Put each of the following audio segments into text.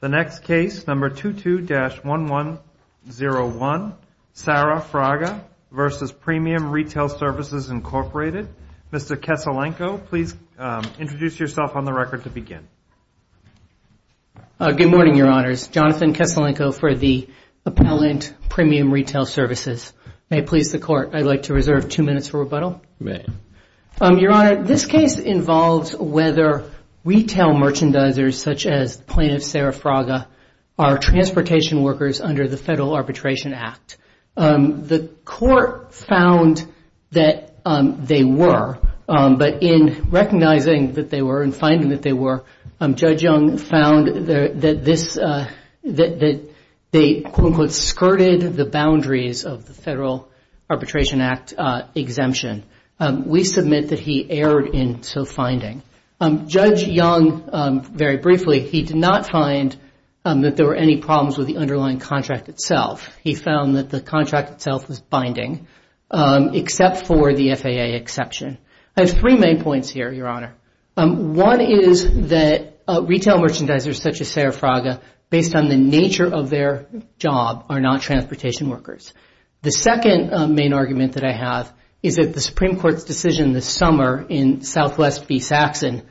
The next case, number 22-1101, Sarah Fraga v. Premium Retail Services, Inc. Mr. Keselenko, please introduce yourself on the record to begin. Good morning, Your Honors. Jonathan Keselenko for the Appellant Premium Retail Services. May it please the Court, I'd like to reserve two minutes for rebuttal. You may. Your Honor, this case involves whether retail merchandisers, such as plaintiff Sarah Fraga, are transportation workers under the Federal Arbitration Act. The Court found that they were, but in recognizing that they were and finding that they were, Judge Young found that this, that they, quote-unquote, skirted the boundaries of the Federal Arbitration Act exemption. We submit that he erred in so finding. Judge Young, very briefly, he did not find that there were any problems with the underlying contract itself. He found that the contract itself was binding, except for the FAA exception. I have three main points here, Your Honor. One is that retail merchandisers, such as Sarah Fraga, based on the nature of their job, are not transportation workers. The second main argument that I have is that the Supreme Court's decision this summer in Southwest v. Saxon,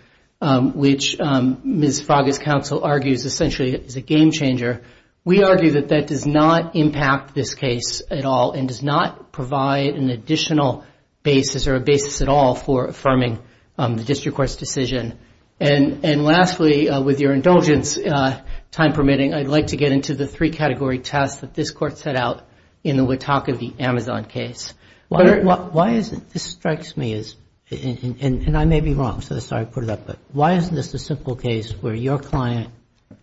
which Ms. Fraga's counsel argues essentially is a game-changer, we argue that that does not impact this case at all and does not provide an additional basis or a basis at all for affirming the district court's decision. And lastly, with your indulgence, time permitting, I'd like to get into the three-category test that this Court set out in the Wataka v. Amazon case. Why is it, this strikes me as, and I may be wrong, so sorry to put it up, but why isn't this a simple case where your client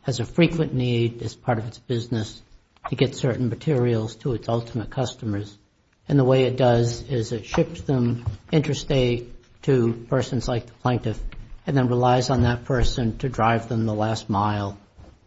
has a frequent need as part of its business to get certain materials to its ultimate customers, and the way it does is it ships them interstate to persons like the plaintiff and then relies on that person to drive them the last mile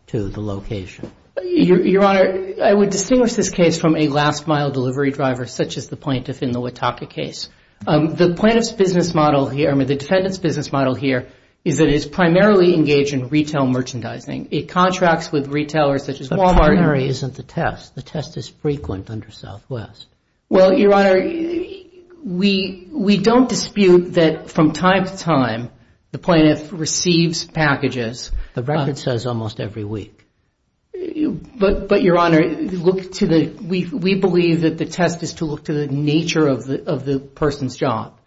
to the location? Your Honor, I would distinguish this case from a last-mile delivery driver such as the plaintiff in the Wataka case. The plaintiff's business model here, I mean, the defendant's business model here is that it is primarily engaged in retail merchandising. It contracts with retailers such as Wal-Mart. But primary isn't the test. The test is frequent under Southwest. Well, Your Honor, we don't dispute that from time to time the plaintiff receives packages. The record says almost every week. But, Your Honor, we believe that the test is to look to the nature of the person's job,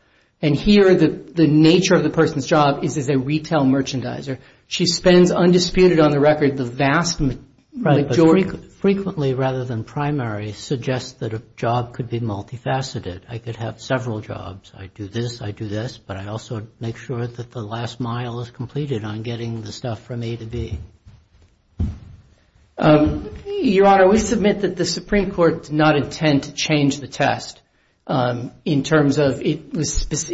and here the nature of the person's job is as a retail merchandiser. She spends, undisputed on the record, the vast majority. Right, but frequently rather than primary suggests that a job could be multifaceted. I could have several jobs. I do this, I do this, but I also make sure that the last mile is completed on getting the stuff from A to B. Your Honor, we submit that the Supreme Court did not intend to change the test in terms of It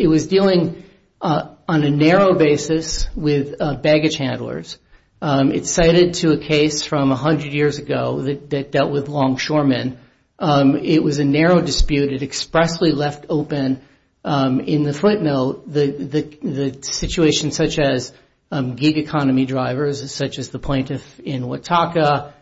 was dealing on a narrow basis with baggage handlers. It's cited to a case from 100 years ago that dealt with longshoremen. It was a narrow dispute. It expressly left open in the footnote the situation such as gig economy drivers, such as the plaintiff in Wataka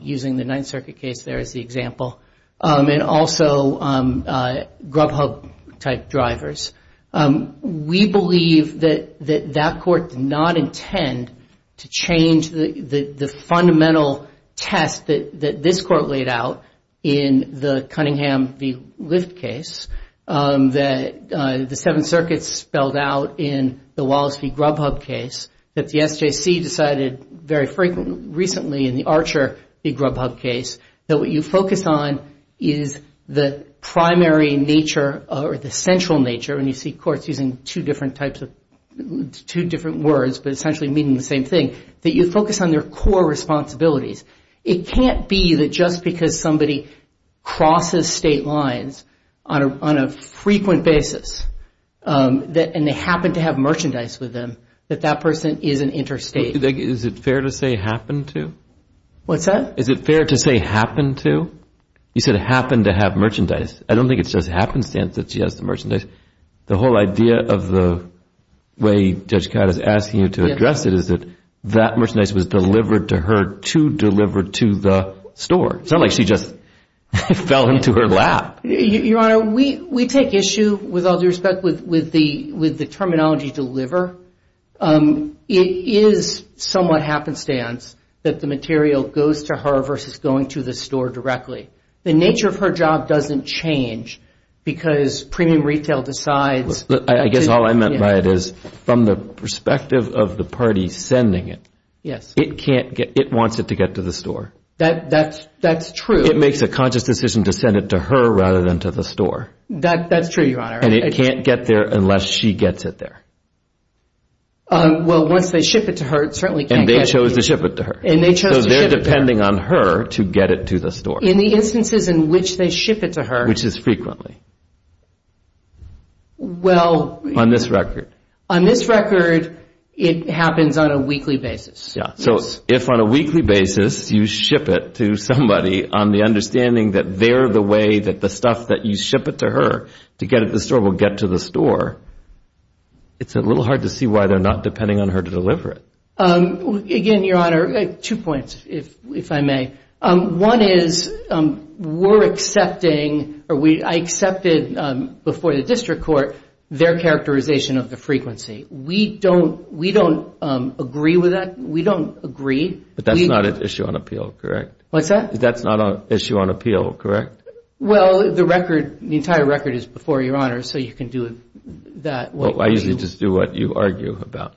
using the Ninth Circuit case there as the example, and also grubhub type drivers. We believe that that court did not intend to change the fundamental test that this court laid out in the Cunningham v. Lift case that the Seventh Circuit spelled out in the Wallace v. Grubhub case that the SJC decided very frequently recently in the Archer v. Grubhub case. That what you focus on is the primary nature or the central nature, and you see courts using two different words, but essentially meaning the same thing, that you focus on their core responsibilities. It can't be that just because somebody crosses state lines on a frequent basis, and they happen to have merchandise with them, that that person is an interstate. Is it fair to say happened to? What's that? Is it fair to say happened to? You said happened to have merchandise. I don't think it's just happenstance that she has the merchandise. The whole idea of the way Judge Codd is asking you to address it is that that merchandise was delivered to her to deliver to the store. It's not like she just fell into her lap. Your Honor, we take issue, with all due respect, with the terminology deliver. It is somewhat happenstance that the material goes to her versus going to the store directly. The nature of her job doesn't change because premium retail decides. I guess all I meant by it is from the perspective of the party sending it, it wants it to get to the store. That's true. It makes a conscious decision to send it to her rather than to the store. That's true, Your Honor. And it can't get there unless she gets it there. Well, once they ship it to her, it certainly can't get there. And they chose to ship it to her. And they chose to ship it to her. So they're depending on her to get it to the store. In the instances in which they ship it to her. Which is frequently. Well. On this record. On this record, it happens on a weekly basis. Yeah, so if on a weekly basis you ship it to somebody on the understanding that they're the way that the stuff that you ship it to her to get it to the store will get to the store, it's a little hard to see why they're not depending on her to deliver it. Again, Your Honor, two points, if I may. One is we're accepting or I accepted before the district court their characterization of the frequency. We don't agree with that. We don't agree. But that's not an issue on appeal, correct? What's that? That's not an issue on appeal, correct? Well, the record, the entire record is before you, Your Honor. So you can do that. I usually just do what you argue about.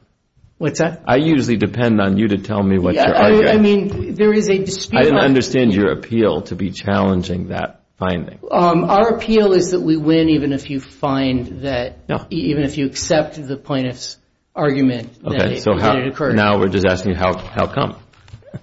What's that? I usually depend on you to tell me what you argue. I mean, there is a dispute. I don't understand your appeal to be challenging that finding. Our appeal is that we win even if you find that, even if you accept the plaintiff's argument that it occurred. Okay, so now we're just asking how come?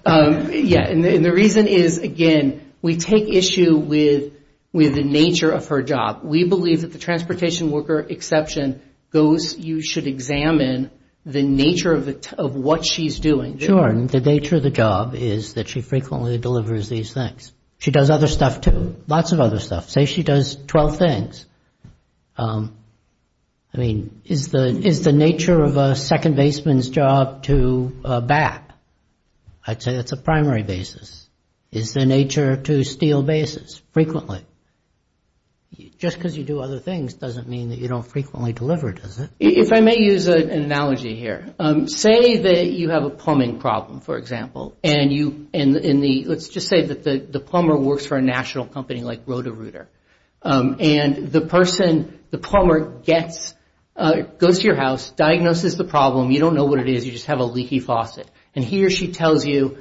Yeah, and the reason is, again, we take issue with the nature of her job. We believe that the transportation worker exception goes, you should examine the nature of what she's doing. Sure, and the nature of the job is that she frequently delivers these things. She does other stuff too, lots of other stuff. Say she does 12 things. I mean, is the nature of a second baseman's job to a bat? I'd say that's a primary basis. Is the nature to steal bases? Frequently. Just because you do other things doesn't mean that you don't frequently deliver, does it? If I may use an analogy here, say that you have a plumbing problem, for example, and let's just say that the plumber works for a national company like Roto-Rooter, and the person, the plumber goes to your house, diagnoses the problem. You don't know what it is. You just have a leaky faucet, and he or she tells you,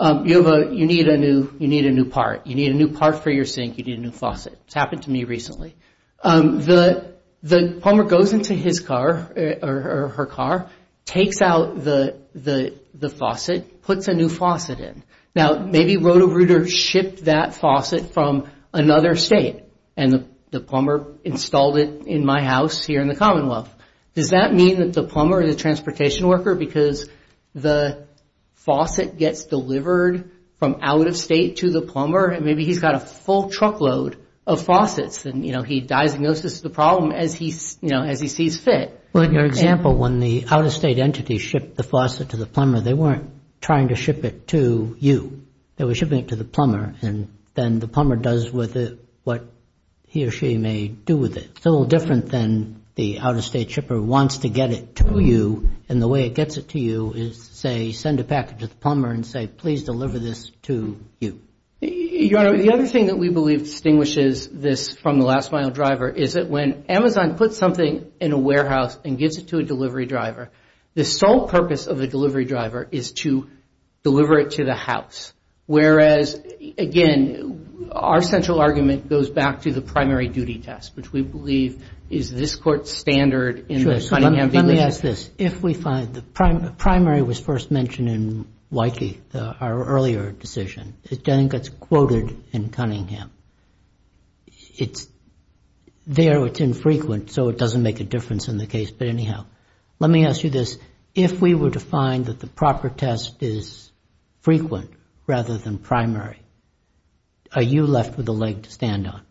you need a new part. You need a new part for your sink. You need a new faucet. It's happened to me recently. The plumber goes into his car or her car, takes out the faucet, puts a new faucet in. Now, maybe Roto-Rooter shipped that faucet from another state, and the plumber installed it in my house here in the Commonwealth. Does that mean that the plumber, the transportation worker, because the faucet gets delivered from out-of-state to the plumber, and maybe he's got a full truckload of faucets, and he diagnoses the problem as he sees fit. Well, in your example, when the out-of-state entity shipped the faucet to the plumber, they weren't trying to ship it to you. They were shipping it to the plumber, and then the plumber does with it what he or she may do with it. It's a little different than the out-of-state shipper wants to get it to you, and the way it gets it to you is, say, send a package to the plumber and say, please deliver this to you. Your Honor, the other thing that we believe distinguishes this from the last mile driver is that when Amazon puts something in a warehouse and gives it to a delivery driver, the sole purpose of the delivery driver is to deliver it to the house, whereas, again, our central argument goes back to the primary duty test, which we believe is this Court's standard in the Cunningham v. Bishop. Let me ask this. If we find the primary was first mentioned in Wykie, our earlier decision, it then gets quoted in Cunningham. It's there, it's infrequent, so it doesn't make a difference in the case, but anyhow, let me ask you this. If we were to find that the proper test is frequent rather than primary, are you left with a leg to stand on?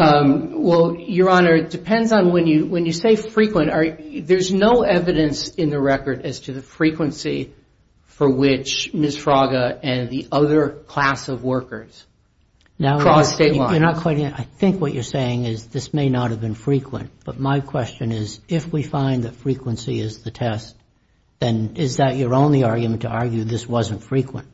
Well, Your Honor, it depends on when you say frequent. There's no evidence in the record as to the frequency for which Ms. Fraga and the other class of workers cross state lines. I think what you're saying is this may not have been frequent, but my question is if we find that frequency is the test, then is that your only argument to argue this wasn't frequent?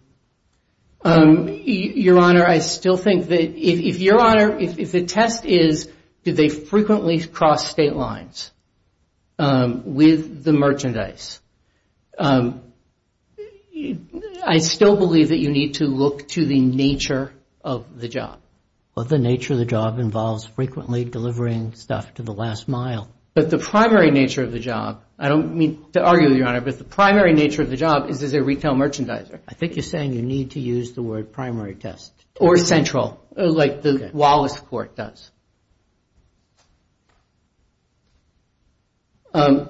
Your Honor, I still think that if, Your Honor, if the test is did they frequently cross state lines with the merchandise, I still believe that you need to look to the nature of the job. Well, the nature of the job involves frequently delivering stuff to the last mile. But the primary nature of the job, I don't mean to argue, Your Honor, but the primary nature of the job is is a retail merchandiser. I think you're saying you need to use the word primary test. Or central, like the Wallace Court does. I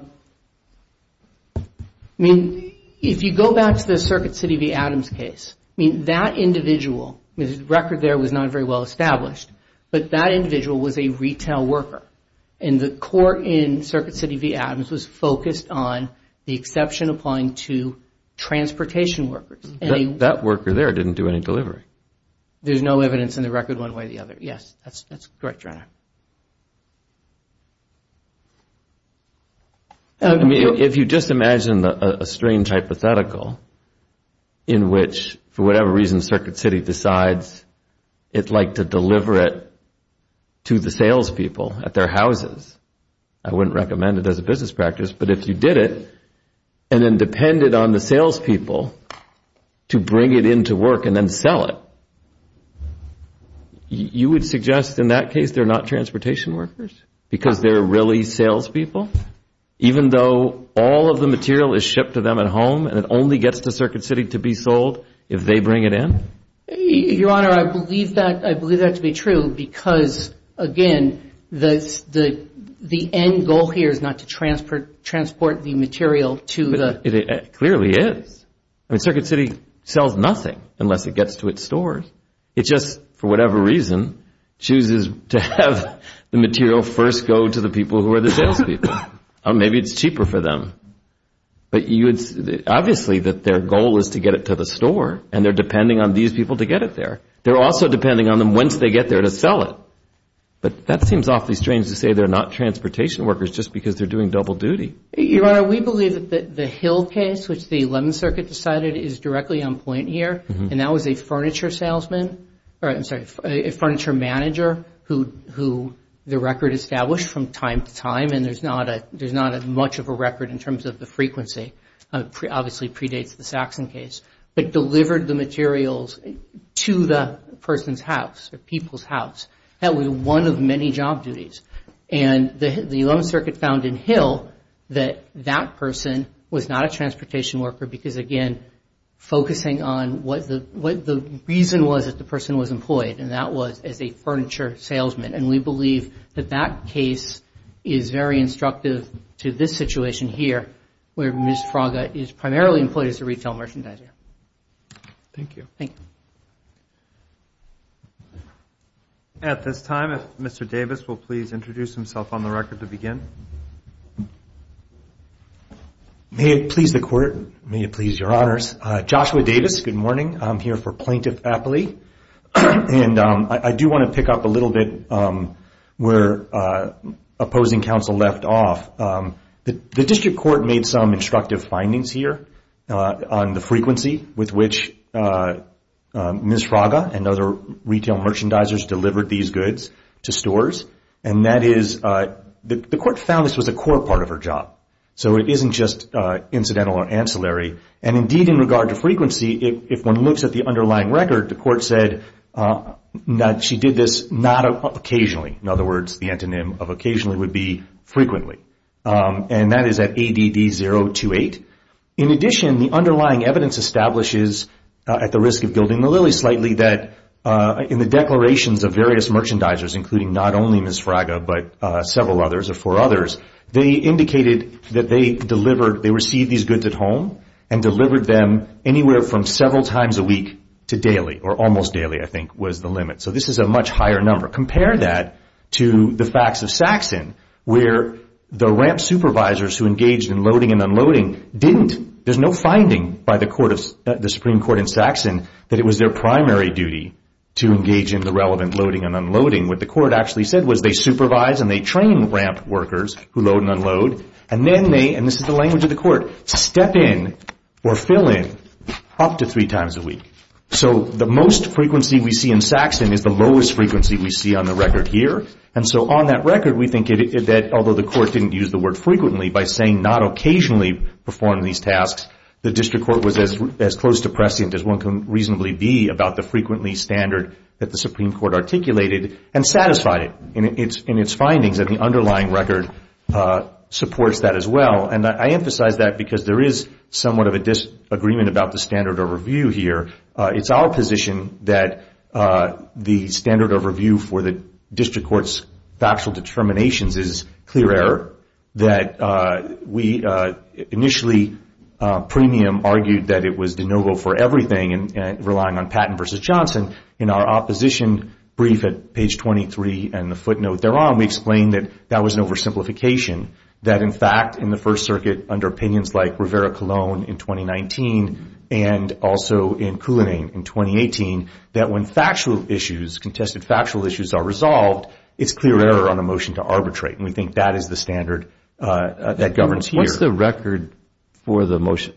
mean, if you go back to the Circuit City v. Adams case, I mean, that individual, the record there was not very well established, but that individual was a retail worker. And the court in Circuit City v. Adams was focused on the exception applying to transportation workers. That worker there didn't do any delivery. There's no evidence in the record one way or the other. Yes, that's correct, Your Honor. I mean, if you just imagine a strange hypothetical in which, for whatever reason, Circuit City decides it's like to deliver it to the salespeople at their houses. I wouldn't recommend it as a business practice, but if you did it and then depended on the salespeople to bring it into work and then sell it, because they're really salespeople? Even though all of the material is shipped to them at home and it only gets to Circuit City to be sold if they bring it in? Your Honor, I believe that to be true because, again, the end goal here is not to transport the material to the... It clearly is. I mean, Circuit City sells nothing unless it gets to its stores. It just, for whatever reason, chooses to have the material first go to the people who are the salespeople. Maybe it's cheaper for them. But obviously their goal is to get it to the store and they're depending on these people to get it there. They're also depending on them once they get there to sell it. But that seems awfully strange to say they're not transportation workers just because they're doing double duty. Your Honor, we believe that the Hill case, which the 11th Circuit decided, is directly on point here. And that was a furniture salesman... I'm sorry, a furniture manager who the record established from time to time and there's not as much of a record in terms of the frequency, obviously predates the Saxon case, but delivered the materials to the person's house or people's house. That was one of many job duties. And the 11th Circuit found in Hill that that person was not a transportation worker because, again, focusing on what the reason was that the person was employed and that was as a furniture salesman. And we believe that that case is very instructive to this situation here where Ms. Fraga is primarily employed as a retail merchandiser. Thank you. Thank you. At this time, if Mr. Davis will please introduce himself on the record to begin. May it please the Court. May it please Your Honors. Joshua Davis, good morning. I'm here for Plaintiff Appley. And I do want to pick up a little bit where opposing counsel left off. The District Court made some instructive findings here on the frequency with which Ms. Fraga and other retail merchandisers delivered these goods to stores. And that is the Court found this was a core part of her job. So it isn't just incidental or ancillary. And, indeed, in regard to frequency, if one looks at the underlying record, the Court said that she did this not occasionally. In other words, the antonym of occasionally would be frequently. And that is at ADD 028. In addition, the underlying evidence establishes at the risk of building the lily slightly that in the declarations of various merchandisers, including not only Ms. Fraga, but several others or four others, they indicated that they received these goods at home and delivered them anywhere from several times a week to daily or almost daily, I think, was the limit. So this is a much higher number. Compare that to the facts of Saxon where the ramp supervisors who engaged in loading and unloading didn't. There's no finding by the Supreme Court in Saxon that it was their primary duty to engage in the relevant loading and unloading. What the Court actually said was they supervise and they train ramp workers who load and unload. And then they, and this is the language of the Court, step in or fill in up to three times a week. So the most frequency we see in Saxon is the lowest frequency we see on the record here. And so on that record, we think that although the Court didn't use the word frequently by saying not occasionally perform these tasks, the District Court was as close to prescient as one can reasonably be about the frequently standard that the Supreme Court articulated and satisfied it in its findings that the underlying record supports that as well. And I emphasize that because there is somewhat of a disagreement about the standard of review here. It's our position that the standard of review for the District Court's factual determinations is clear error, that we initially premium argued that it was de novo for everything and relying on Patton v. Johnson. In our opposition brief at page 23 and the footnote thereon, we explained that that was an oversimplification, that in fact in the First Circuit under opinions like Rivera-Colón in 2019 and also in Coulinane in 2018, that when factual issues, contested factual issues are resolved, it's clear error on a motion to arbitrate. And we think that is the standard that governs here. What's the record for the motion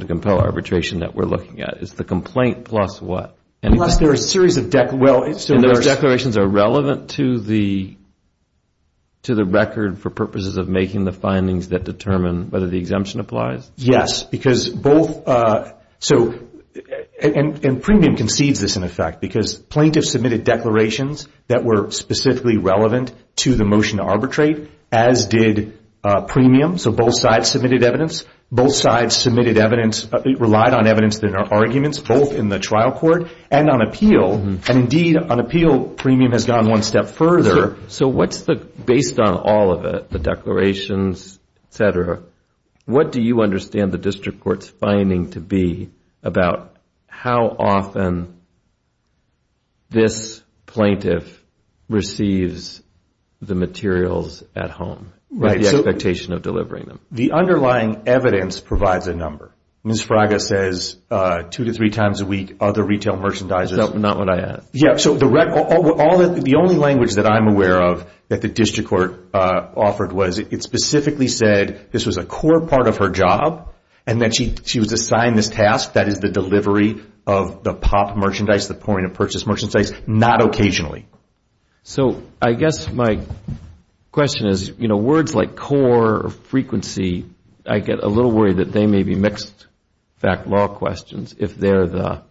to compel arbitration that we're looking at? It's the complaint plus what? Unless there are a series of declarations. And those declarations are relevant to the record for purposes of making the findings that determine whether the exemption applies? Yes, because both, and premium concedes this in effect because plaintiffs submitted declarations that were specifically relevant to the motion to arbitrate, as did premium. So both sides submitted evidence. Both sides submitted evidence, relied on evidence in their arguments, both in the trial court and on appeal. And indeed, on appeal, premium has gone one step further. So what's the, based on all of it, the declarations, et cetera, what do you understand the district court's finding to be about how often this plaintiff receives the materials at home, with the expectation of delivering them? The underlying evidence provides a number. Ms. Fraga says two to three times a week, other retail merchandisers. Not what I asked. Yeah, so the only language that I'm aware of that the district court offered was it specifically said this was a core part of her job and that she was assigned this task, that is the delivery of the POP merchandise, the point of purchase merchandise, not occasionally. So I guess my question is, you know, words like core or frequency, I get a little worried that they may be mixed fact law questions, if they're the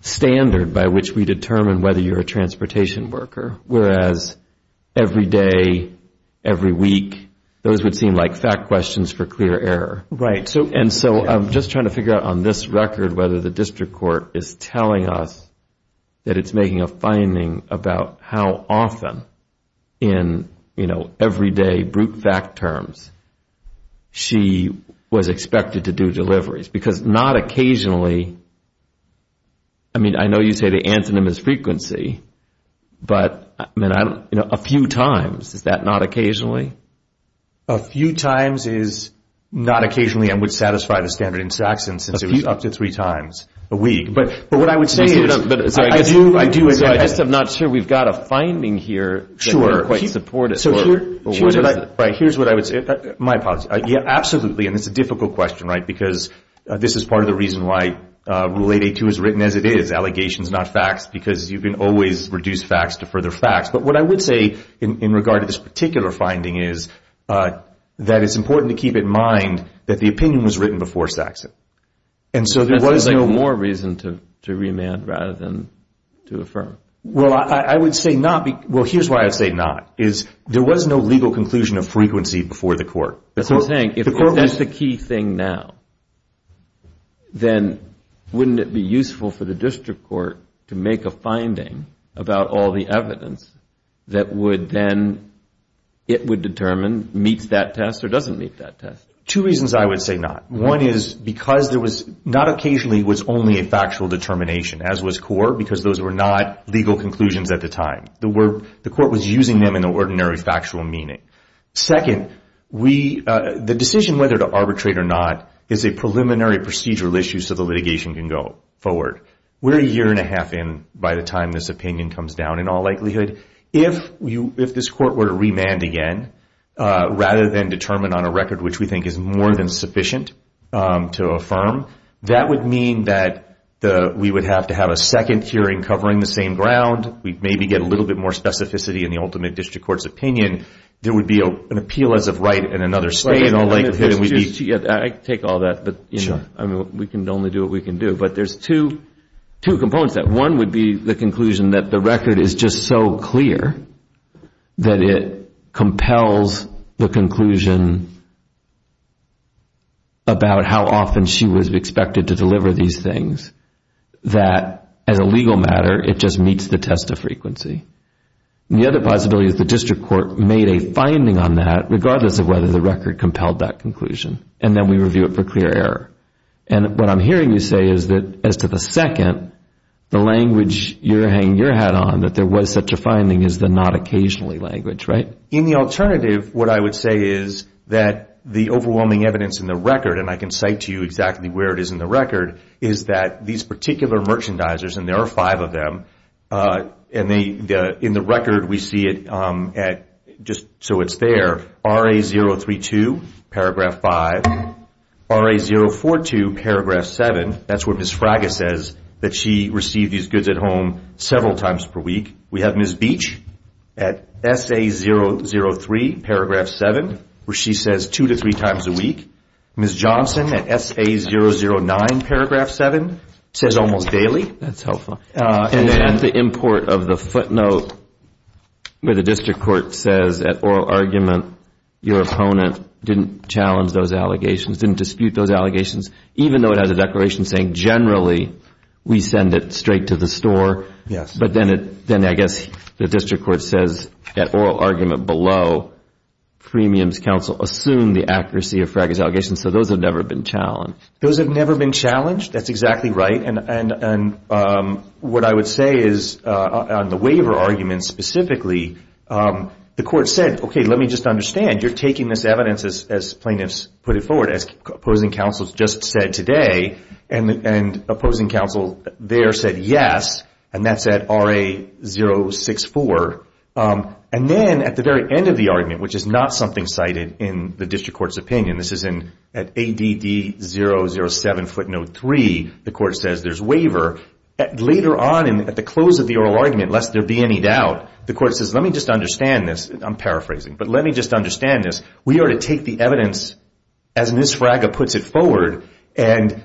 standard by which we determine whether you're a transportation worker. Whereas every day, every week, those would seem like fact questions for clear error. Right. And so I'm just trying to figure out on this record whether the district court is telling us that it's making a finding about how often in, you know, every day, brute fact terms, she was expected to do deliveries. Because not occasionally, I mean, I know you say the antonym is frequency, but a few times, is that not occasionally? A few times is not occasionally and would satisfy the standard in Saxon since it was up to three times a week. But what I would say is I do agree. So I'm just not sure we've got a finding here that we're quite supportive of. Sure. Here's what I would say. My apologies. Yeah, absolutely. And it's a difficult question, right, because this is part of the reason why Rule 882 is written as it is, allegations, not facts, because you can always reduce facts to further facts. But what I would say in regard to this particular finding is that it's important to keep in mind that the opinion was written before Saxon. And so there was no more reason to remand rather than to affirm. Well, I would say not. Well, here's why I'd say not, is there was no legal conclusion of frequency before the court. That's what I'm saying. If that's the key thing now, then wouldn't it be useful for the district court to make a finding about all the evidence that would then it would determine meets that test or doesn't meet that test? Two reasons I would say not. One is because there was not occasionally was only a factual determination, as was core, because those were not legal conclusions at the time. The court was using them in the ordinary factual meaning. Second, the decision whether to arbitrate or not is a preliminary procedural issue so the litigation can go forward. We're a year and a half in by the time this opinion comes down in all likelihood. If this court were to remand again rather than determine on a record which we think is more than sufficient to affirm, that would mean that we would have to have a second hearing covering the same ground. We'd maybe get a little bit more specificity in the ultimate district court's opinion. There would be an appeal as of right in another state in all likelihood. I take all that, but we can only do what we can do. But there's two components to that. One would be the conclusion that the record is just so clear that it compels the conclusion about how often she was expected to deliver these things, that as a legal matter it just meets the test of frequency. The other possibility is the district court made a finding on that, regardless of whether the record compelled that conclusion, and then we review it for clear error. What I'm hearing you say is that as to the second, the language you're hanging your hat on, that there was such a finding is the not occasionally language, right? In the alternative, what I would say is that the overwhelming evidence in the record, and I can cite to you exactly where it is in the record, is that these particular merchandisers, and there are five of them, and in the record we see it just so it's there, RA 032, paragraph 5, RA 042, paragraph 7. That's where Ms. Fraga says that she received these goods at home several times per week. We have Ms. Beach at SA 003, paragraph 7, where she says two to three times a week. Ms. Johnson at SA 009, paragraph 7, says almost daily. That's helpful. And then at the import of the footnote where the district court says at oral argument, your opponent didn't challenge those allegations, didn't dispute those allegations, even though it has a declaration saying generally we send it straight to the store. Yes. But then I guess the district court says at oral argument below, premiums counsel assumed the accuracy of Fraga's allegations, so those have never been challenged. Those have never been challenged? That's exactly right. And what I would say is on the waiver argument specifically, the court said, okay, let me just understand, you're taking this evidence, as plaintiffs put it forward, as opposing counsel just said today, and opposing counsel there said yes, and that's at RA 064. And then at the very end of the argument, which is not something cited in the district court's opinion, this is at ADD 007 footnote 3, the court says there's waiver. Later on at the close of the oral argument, lest there be any doubt, the court says, let me just understand this, I'm paraphrasing, but let me just understand this. We are to take the evidence as Ms. Fraga puts it forward and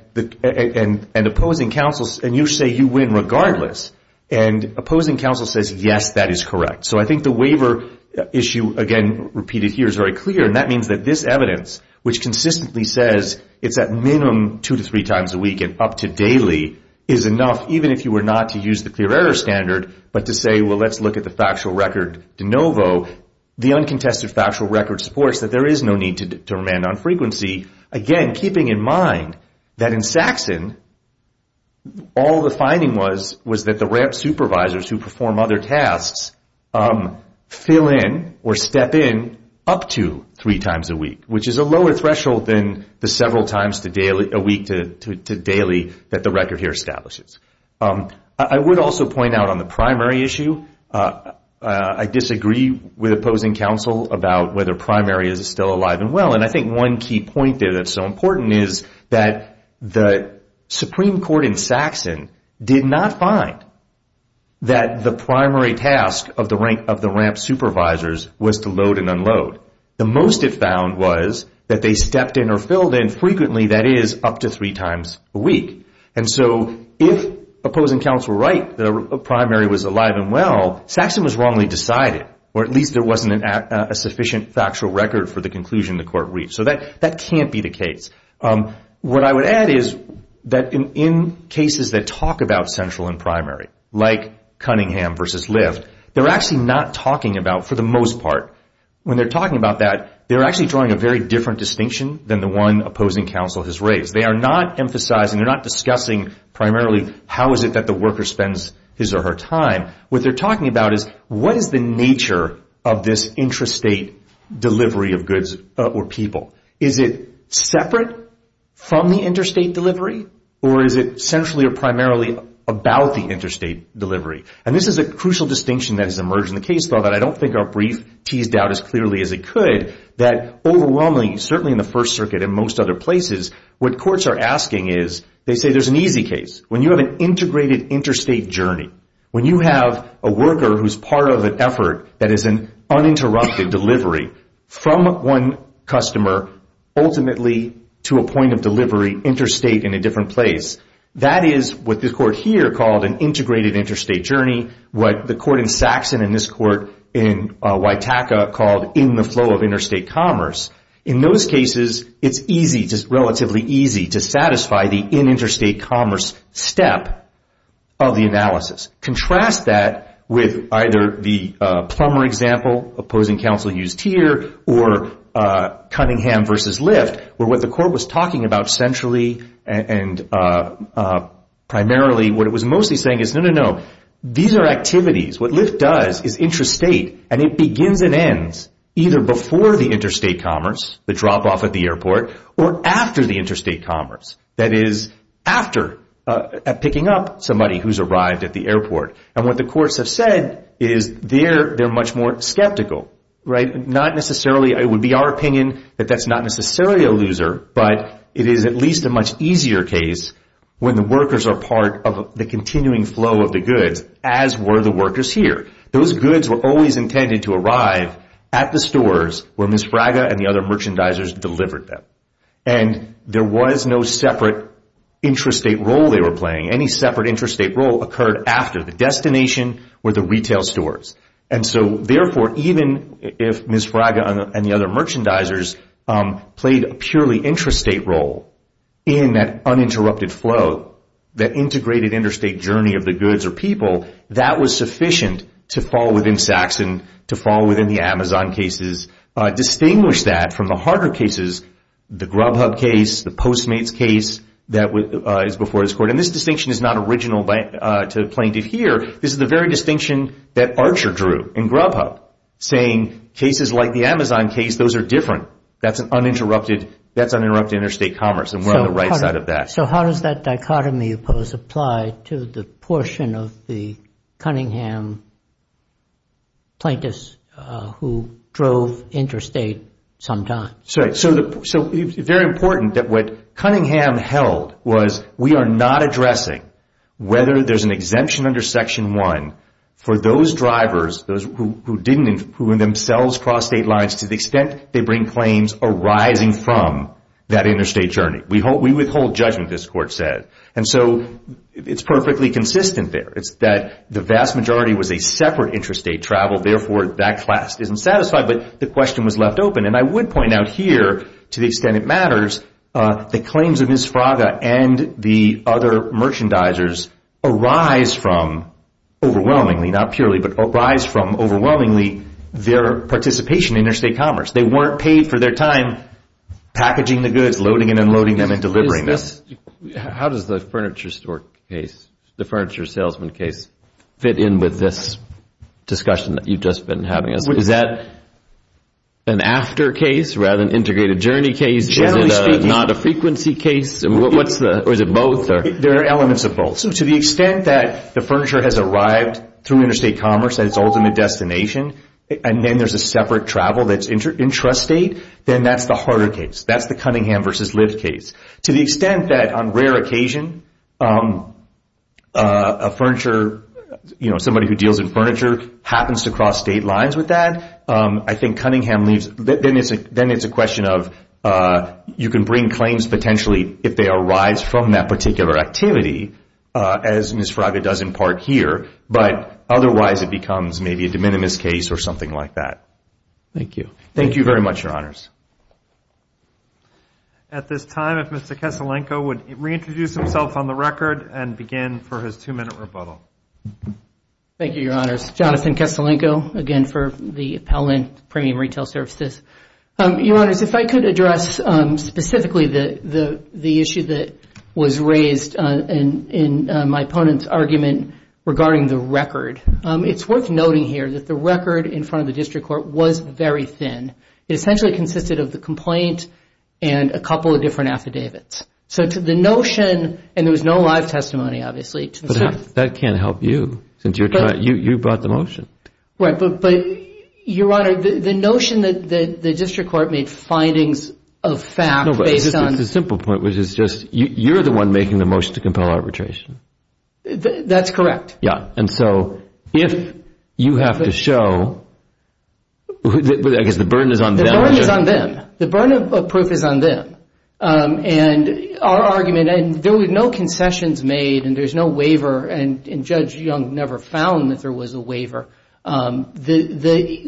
opposing counsel, and you say you win regardless, and opposing counsel says yes, that is correct. So I think the waiver issue, again, repeated here is very clear, and that means that this evidence, which consistently says it's at minimum two to three times a week and up to daily is enough, even if you were not to use the clear error standard, but to say, well, let's look at the factual record de novo. The uncontested factual record supports that there is no need to determine on frequency, again, keeping in mind that in Saxon, all the finding was that the RAMP supervisors who perform other tasks fill in or step in up to three times a week, which is a lower threshold than the several times a week to daily that the record here establishes. I would also point out on the primary issue, I disagree with opposing counsel about whether primary is still alive and well, and I think one key point there that's so important is that the Supreme Court in Saxon did not find that the primary task of the RAMP supervisors was to load and unload. The most it found was that they stepped in or filled in frequently, that is, up to three times a week. And so if opposing counsel were right, the primary was alive and well, Saxon was wrongly decided, or at least there wasn't a sufficient factual record for the conclusion the court reached. So that can't be the case. What I would add is that in cases that talk about central and primary, like Cunningham versus Lift, they're actually not talking about, for the most part, when they're talking about that, they're actually drawing a very different distinction than the one opposing counsel has raised. They are not emphasizing, they're not discussing primarily how is it that the worker spends his or her time. What they're talking about is what is the nature of this intrastate delivery of goods or people. Is it separate from the interstate delivery, or is it centrally or primarily about the interstate delivery? And this is a crucial distinction that has emerged in the case, though, that I don't think our brief teased out as clearly as it could, that overwhelmingly, certainly in the First Circuit and most other places, what courts are asking is, they say there's an easy case. When you have an integrated interstate journey, when you have a worker who's part of an effort that is an uninterrupted delivery from one customer ultimately to a point of delivery interstate in a different place, that is what this court here called an integrated interstate journey, what the court in Saxon and this court in Witaka called in the flow of interstate commerce. In those cases, it's easy, just relatively easy, to satisfy the in interstate commerce step of the analysis. Contrast that with either the Plummer example, opposing counsel Hughes-Teer, or Cunningham v. Lyft, where what the court was talking about centrally and primarily, what it was mostly saying is, no, no, no, these are activities. What Lyft does is interstate, and it begins and ends either before the interstate commerce, the drop-off at the airport, or after the interstate commerce, that is, after picking up somebody who's arrived at the airport. What the courts have said is, they're much more skeptical. It would be our opinion that that's not necessarily a loser, but it is at least a much easier case when the workers are part of the continuing flow of the goods, as were the workers here. Those goods were always intended to arrive at the stores where Ms. Braga and the other merchandisers delivered them. There was no separate intrastate role they were playing. Any separate intrastate role occurred after the destination were the retail stores. Therefore, even if Ms. Braga and the other merchandisers played a purely intrastate role in that uninterrupted flow, that integrated interstate journey of the goods or people, that was sufficient to fall within Saxon, to fall within the Amazon cases. Distinguish that from the harder cases, the Grubhub case, the Postmates case that is before this court. This distinction is not original to plaintiff here. This is the very distinction that Archer drew in Grubhub, saying cases like the Amazon case, those are different. That's uninterrupted interstate commerce, and we're on the right side of that. So how does that dichotomy you pose apply to the portion of the Cunningham plaintiffs who drove interstate sometimes? It's very important that what Cunningham held was we are not addressing whether there's an exemption under Section 1 for those drivers, those who themselves crossed state lines, to the extent they bring claims arising from that interstate journey. We withhold judgment, this court said. It's perfectly consistent there. It's that the vast majority was a separate intrastate travel. Therefore, that class isn't satisfied, but the question was left open. And I would point out here, to the extent it matters, the claims of Ms. Fraga and the other merchandisers arise from overwhelmingly, not purely, but arise from overwhelmingly their participation in interstate commerce. They weren't paid for their time packaging the goods, loading and unloading them, and delivering them. How does the furniture store case, the furniture salesman case, fit in with this discussion that you've just been having? Is that an after case rather than integrated journey case? Generally speaking. Is it not a frequency case? Or is it both? There are elements of both. To the extent that the furniture has arrived through interstate commerce at its ultimate destination, and then there's a separate travel that's intrastate, then that's the harder case. That's the Cunningham v. Liv case. To the extent that on rare occasion, somebody who deals in furniture happens to cross state lines with that, I think Cunningham leaves. Then it's a question of you can bring claims potentially if they arise from that particular activity, as Ms. Fraga does in part here. But otherwise, it becomes maybe a de minimis case or something like that. Thank you. Thank you very much, Your Honors. At this time, if Mr. Keselenko would reintroduce himself on the record and begin for his two-minute rebuttal. Thank you, Your Honors. Jonathan Keselenko, again, for the Appellant Premium Retail Services. Your Honors, if I could address specifically the issue that was raised in my opponent's argument regarding the record. It's worth noting here that the record in front of the district court was very thin. It essentially consisted of the complaint and a couple of different affidavits. So to the notion, and there was no live testimony, obviously. That can't help you since you brought the motion. Right. But, Your Honor, the notion that the district court made findings of fact based on It's a simple point, which is just you're the one making the motion to compel arbitration. That's correct. Yeah. And so if you have to show, I guess the burden is on them. The burden is on them. The burden of proof is on them. And our argument, and there were no concessions made, and there's no waiver, and Judge Young never found that there was a waiver. You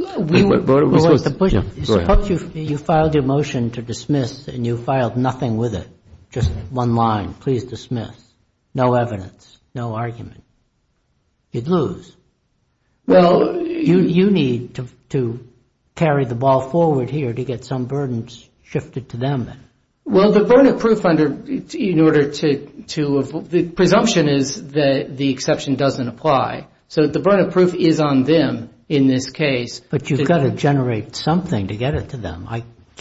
filed your motion to dismiss, and you filed nothing with it, just one line, please dismiss, no evidence, no argument. You'd lose. Well, you need to carry the ball forward here to get some burdens shifted to them then. Well, the burden of proof under, in order to, the presumption is that the exception doesn't apply. So the burden of proof is on them in this case. But you've got to generate something to get it to them.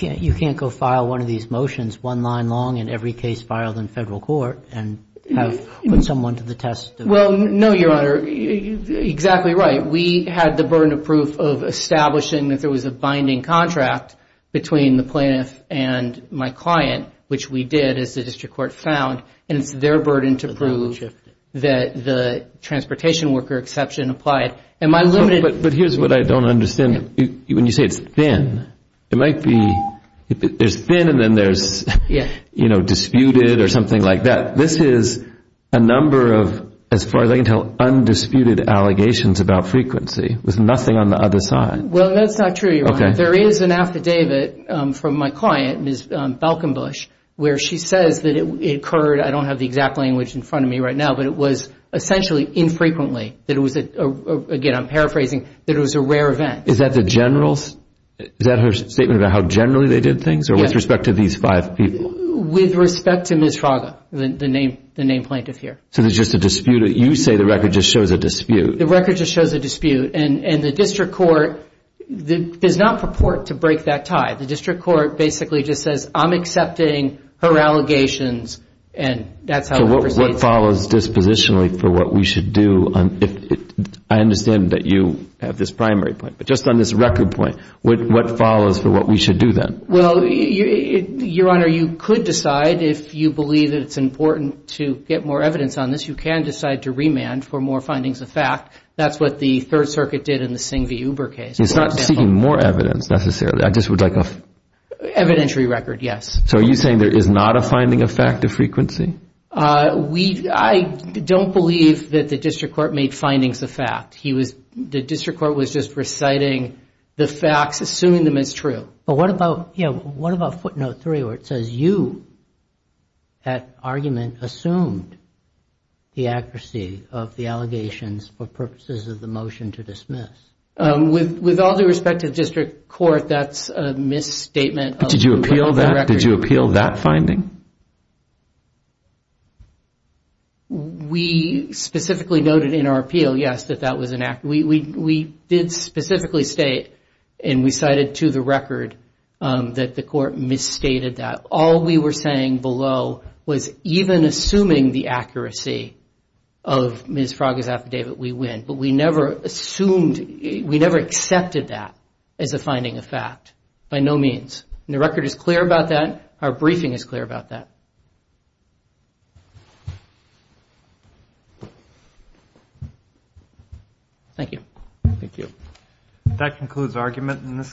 You can't go file one of these motions one line long in every case filed in federal court and have someone to the test. Well, no, Your Honor, exactly right. We had the burden of proof of establishing that there was a binding contract between the plaintiff and my client, which we did as the district court found. And it's their burden to prove that the transportation worker exception applied. And my limited But here's what I don't understand. When you say it's thin, it might be, there's thin and then there's disputed or something like that. This is a number of, as far as I can tell, undisputed allegations about frequency with nothing on the other side. Well, that's not true, Your Honor. There is an affidavit from my client, Ms. Balkenbush, where she says that it occurred, I don't have the exact language in front of me right now, but it was essentially infrequently, that it was, again, I'm paraphrasing, that it was a rare event. Is that the general, is that her statement about how generally they did things or with respect to these five people? With respect to Ms. Fraga, the named plaintiff here. So there's just a dispute. You say the record just shows a dispute. The record just shows a dispute. And the district court does not purport to break that tie. So what follows dispositionally for what we should do? I understand that you have this primary point, but just on this record point, what follows for what we should do then? Well, Your Honor, you could decide, if you believe that it's important to get more evidence on this, you can decide to remand for more findings of fact. That's what the Third Circuit did in the Singh v. Uber case. It's not seeking more evidence, necessarily. I just would like a... Evidentiary record, yes. So are you saying there is not a finding of fact of frequency? I don't believe that the district court made findings of fact. The district court was just reciting the facts, assuming them as true. But what about footnote three where it says you, that argument, assumed the accuracy of the allegations for purposes of the motion to dismiss? With all due respect to the district court, that's a misstatement of the record. Did you appeal that finding? We specifically noted in our appeal, yes, that that was inaccurate. We did specifically state, and we cited to the record, that the court misstated that. All we were saying below was even assuming the accuracy of Ms. Fraga's affidavit, we win. But we never assumed, we never accepted that as a finding of fact, by no means. And the record is clear about that. Our briefing is clear about that. Thank you. Thank you. That concludes argument in this case.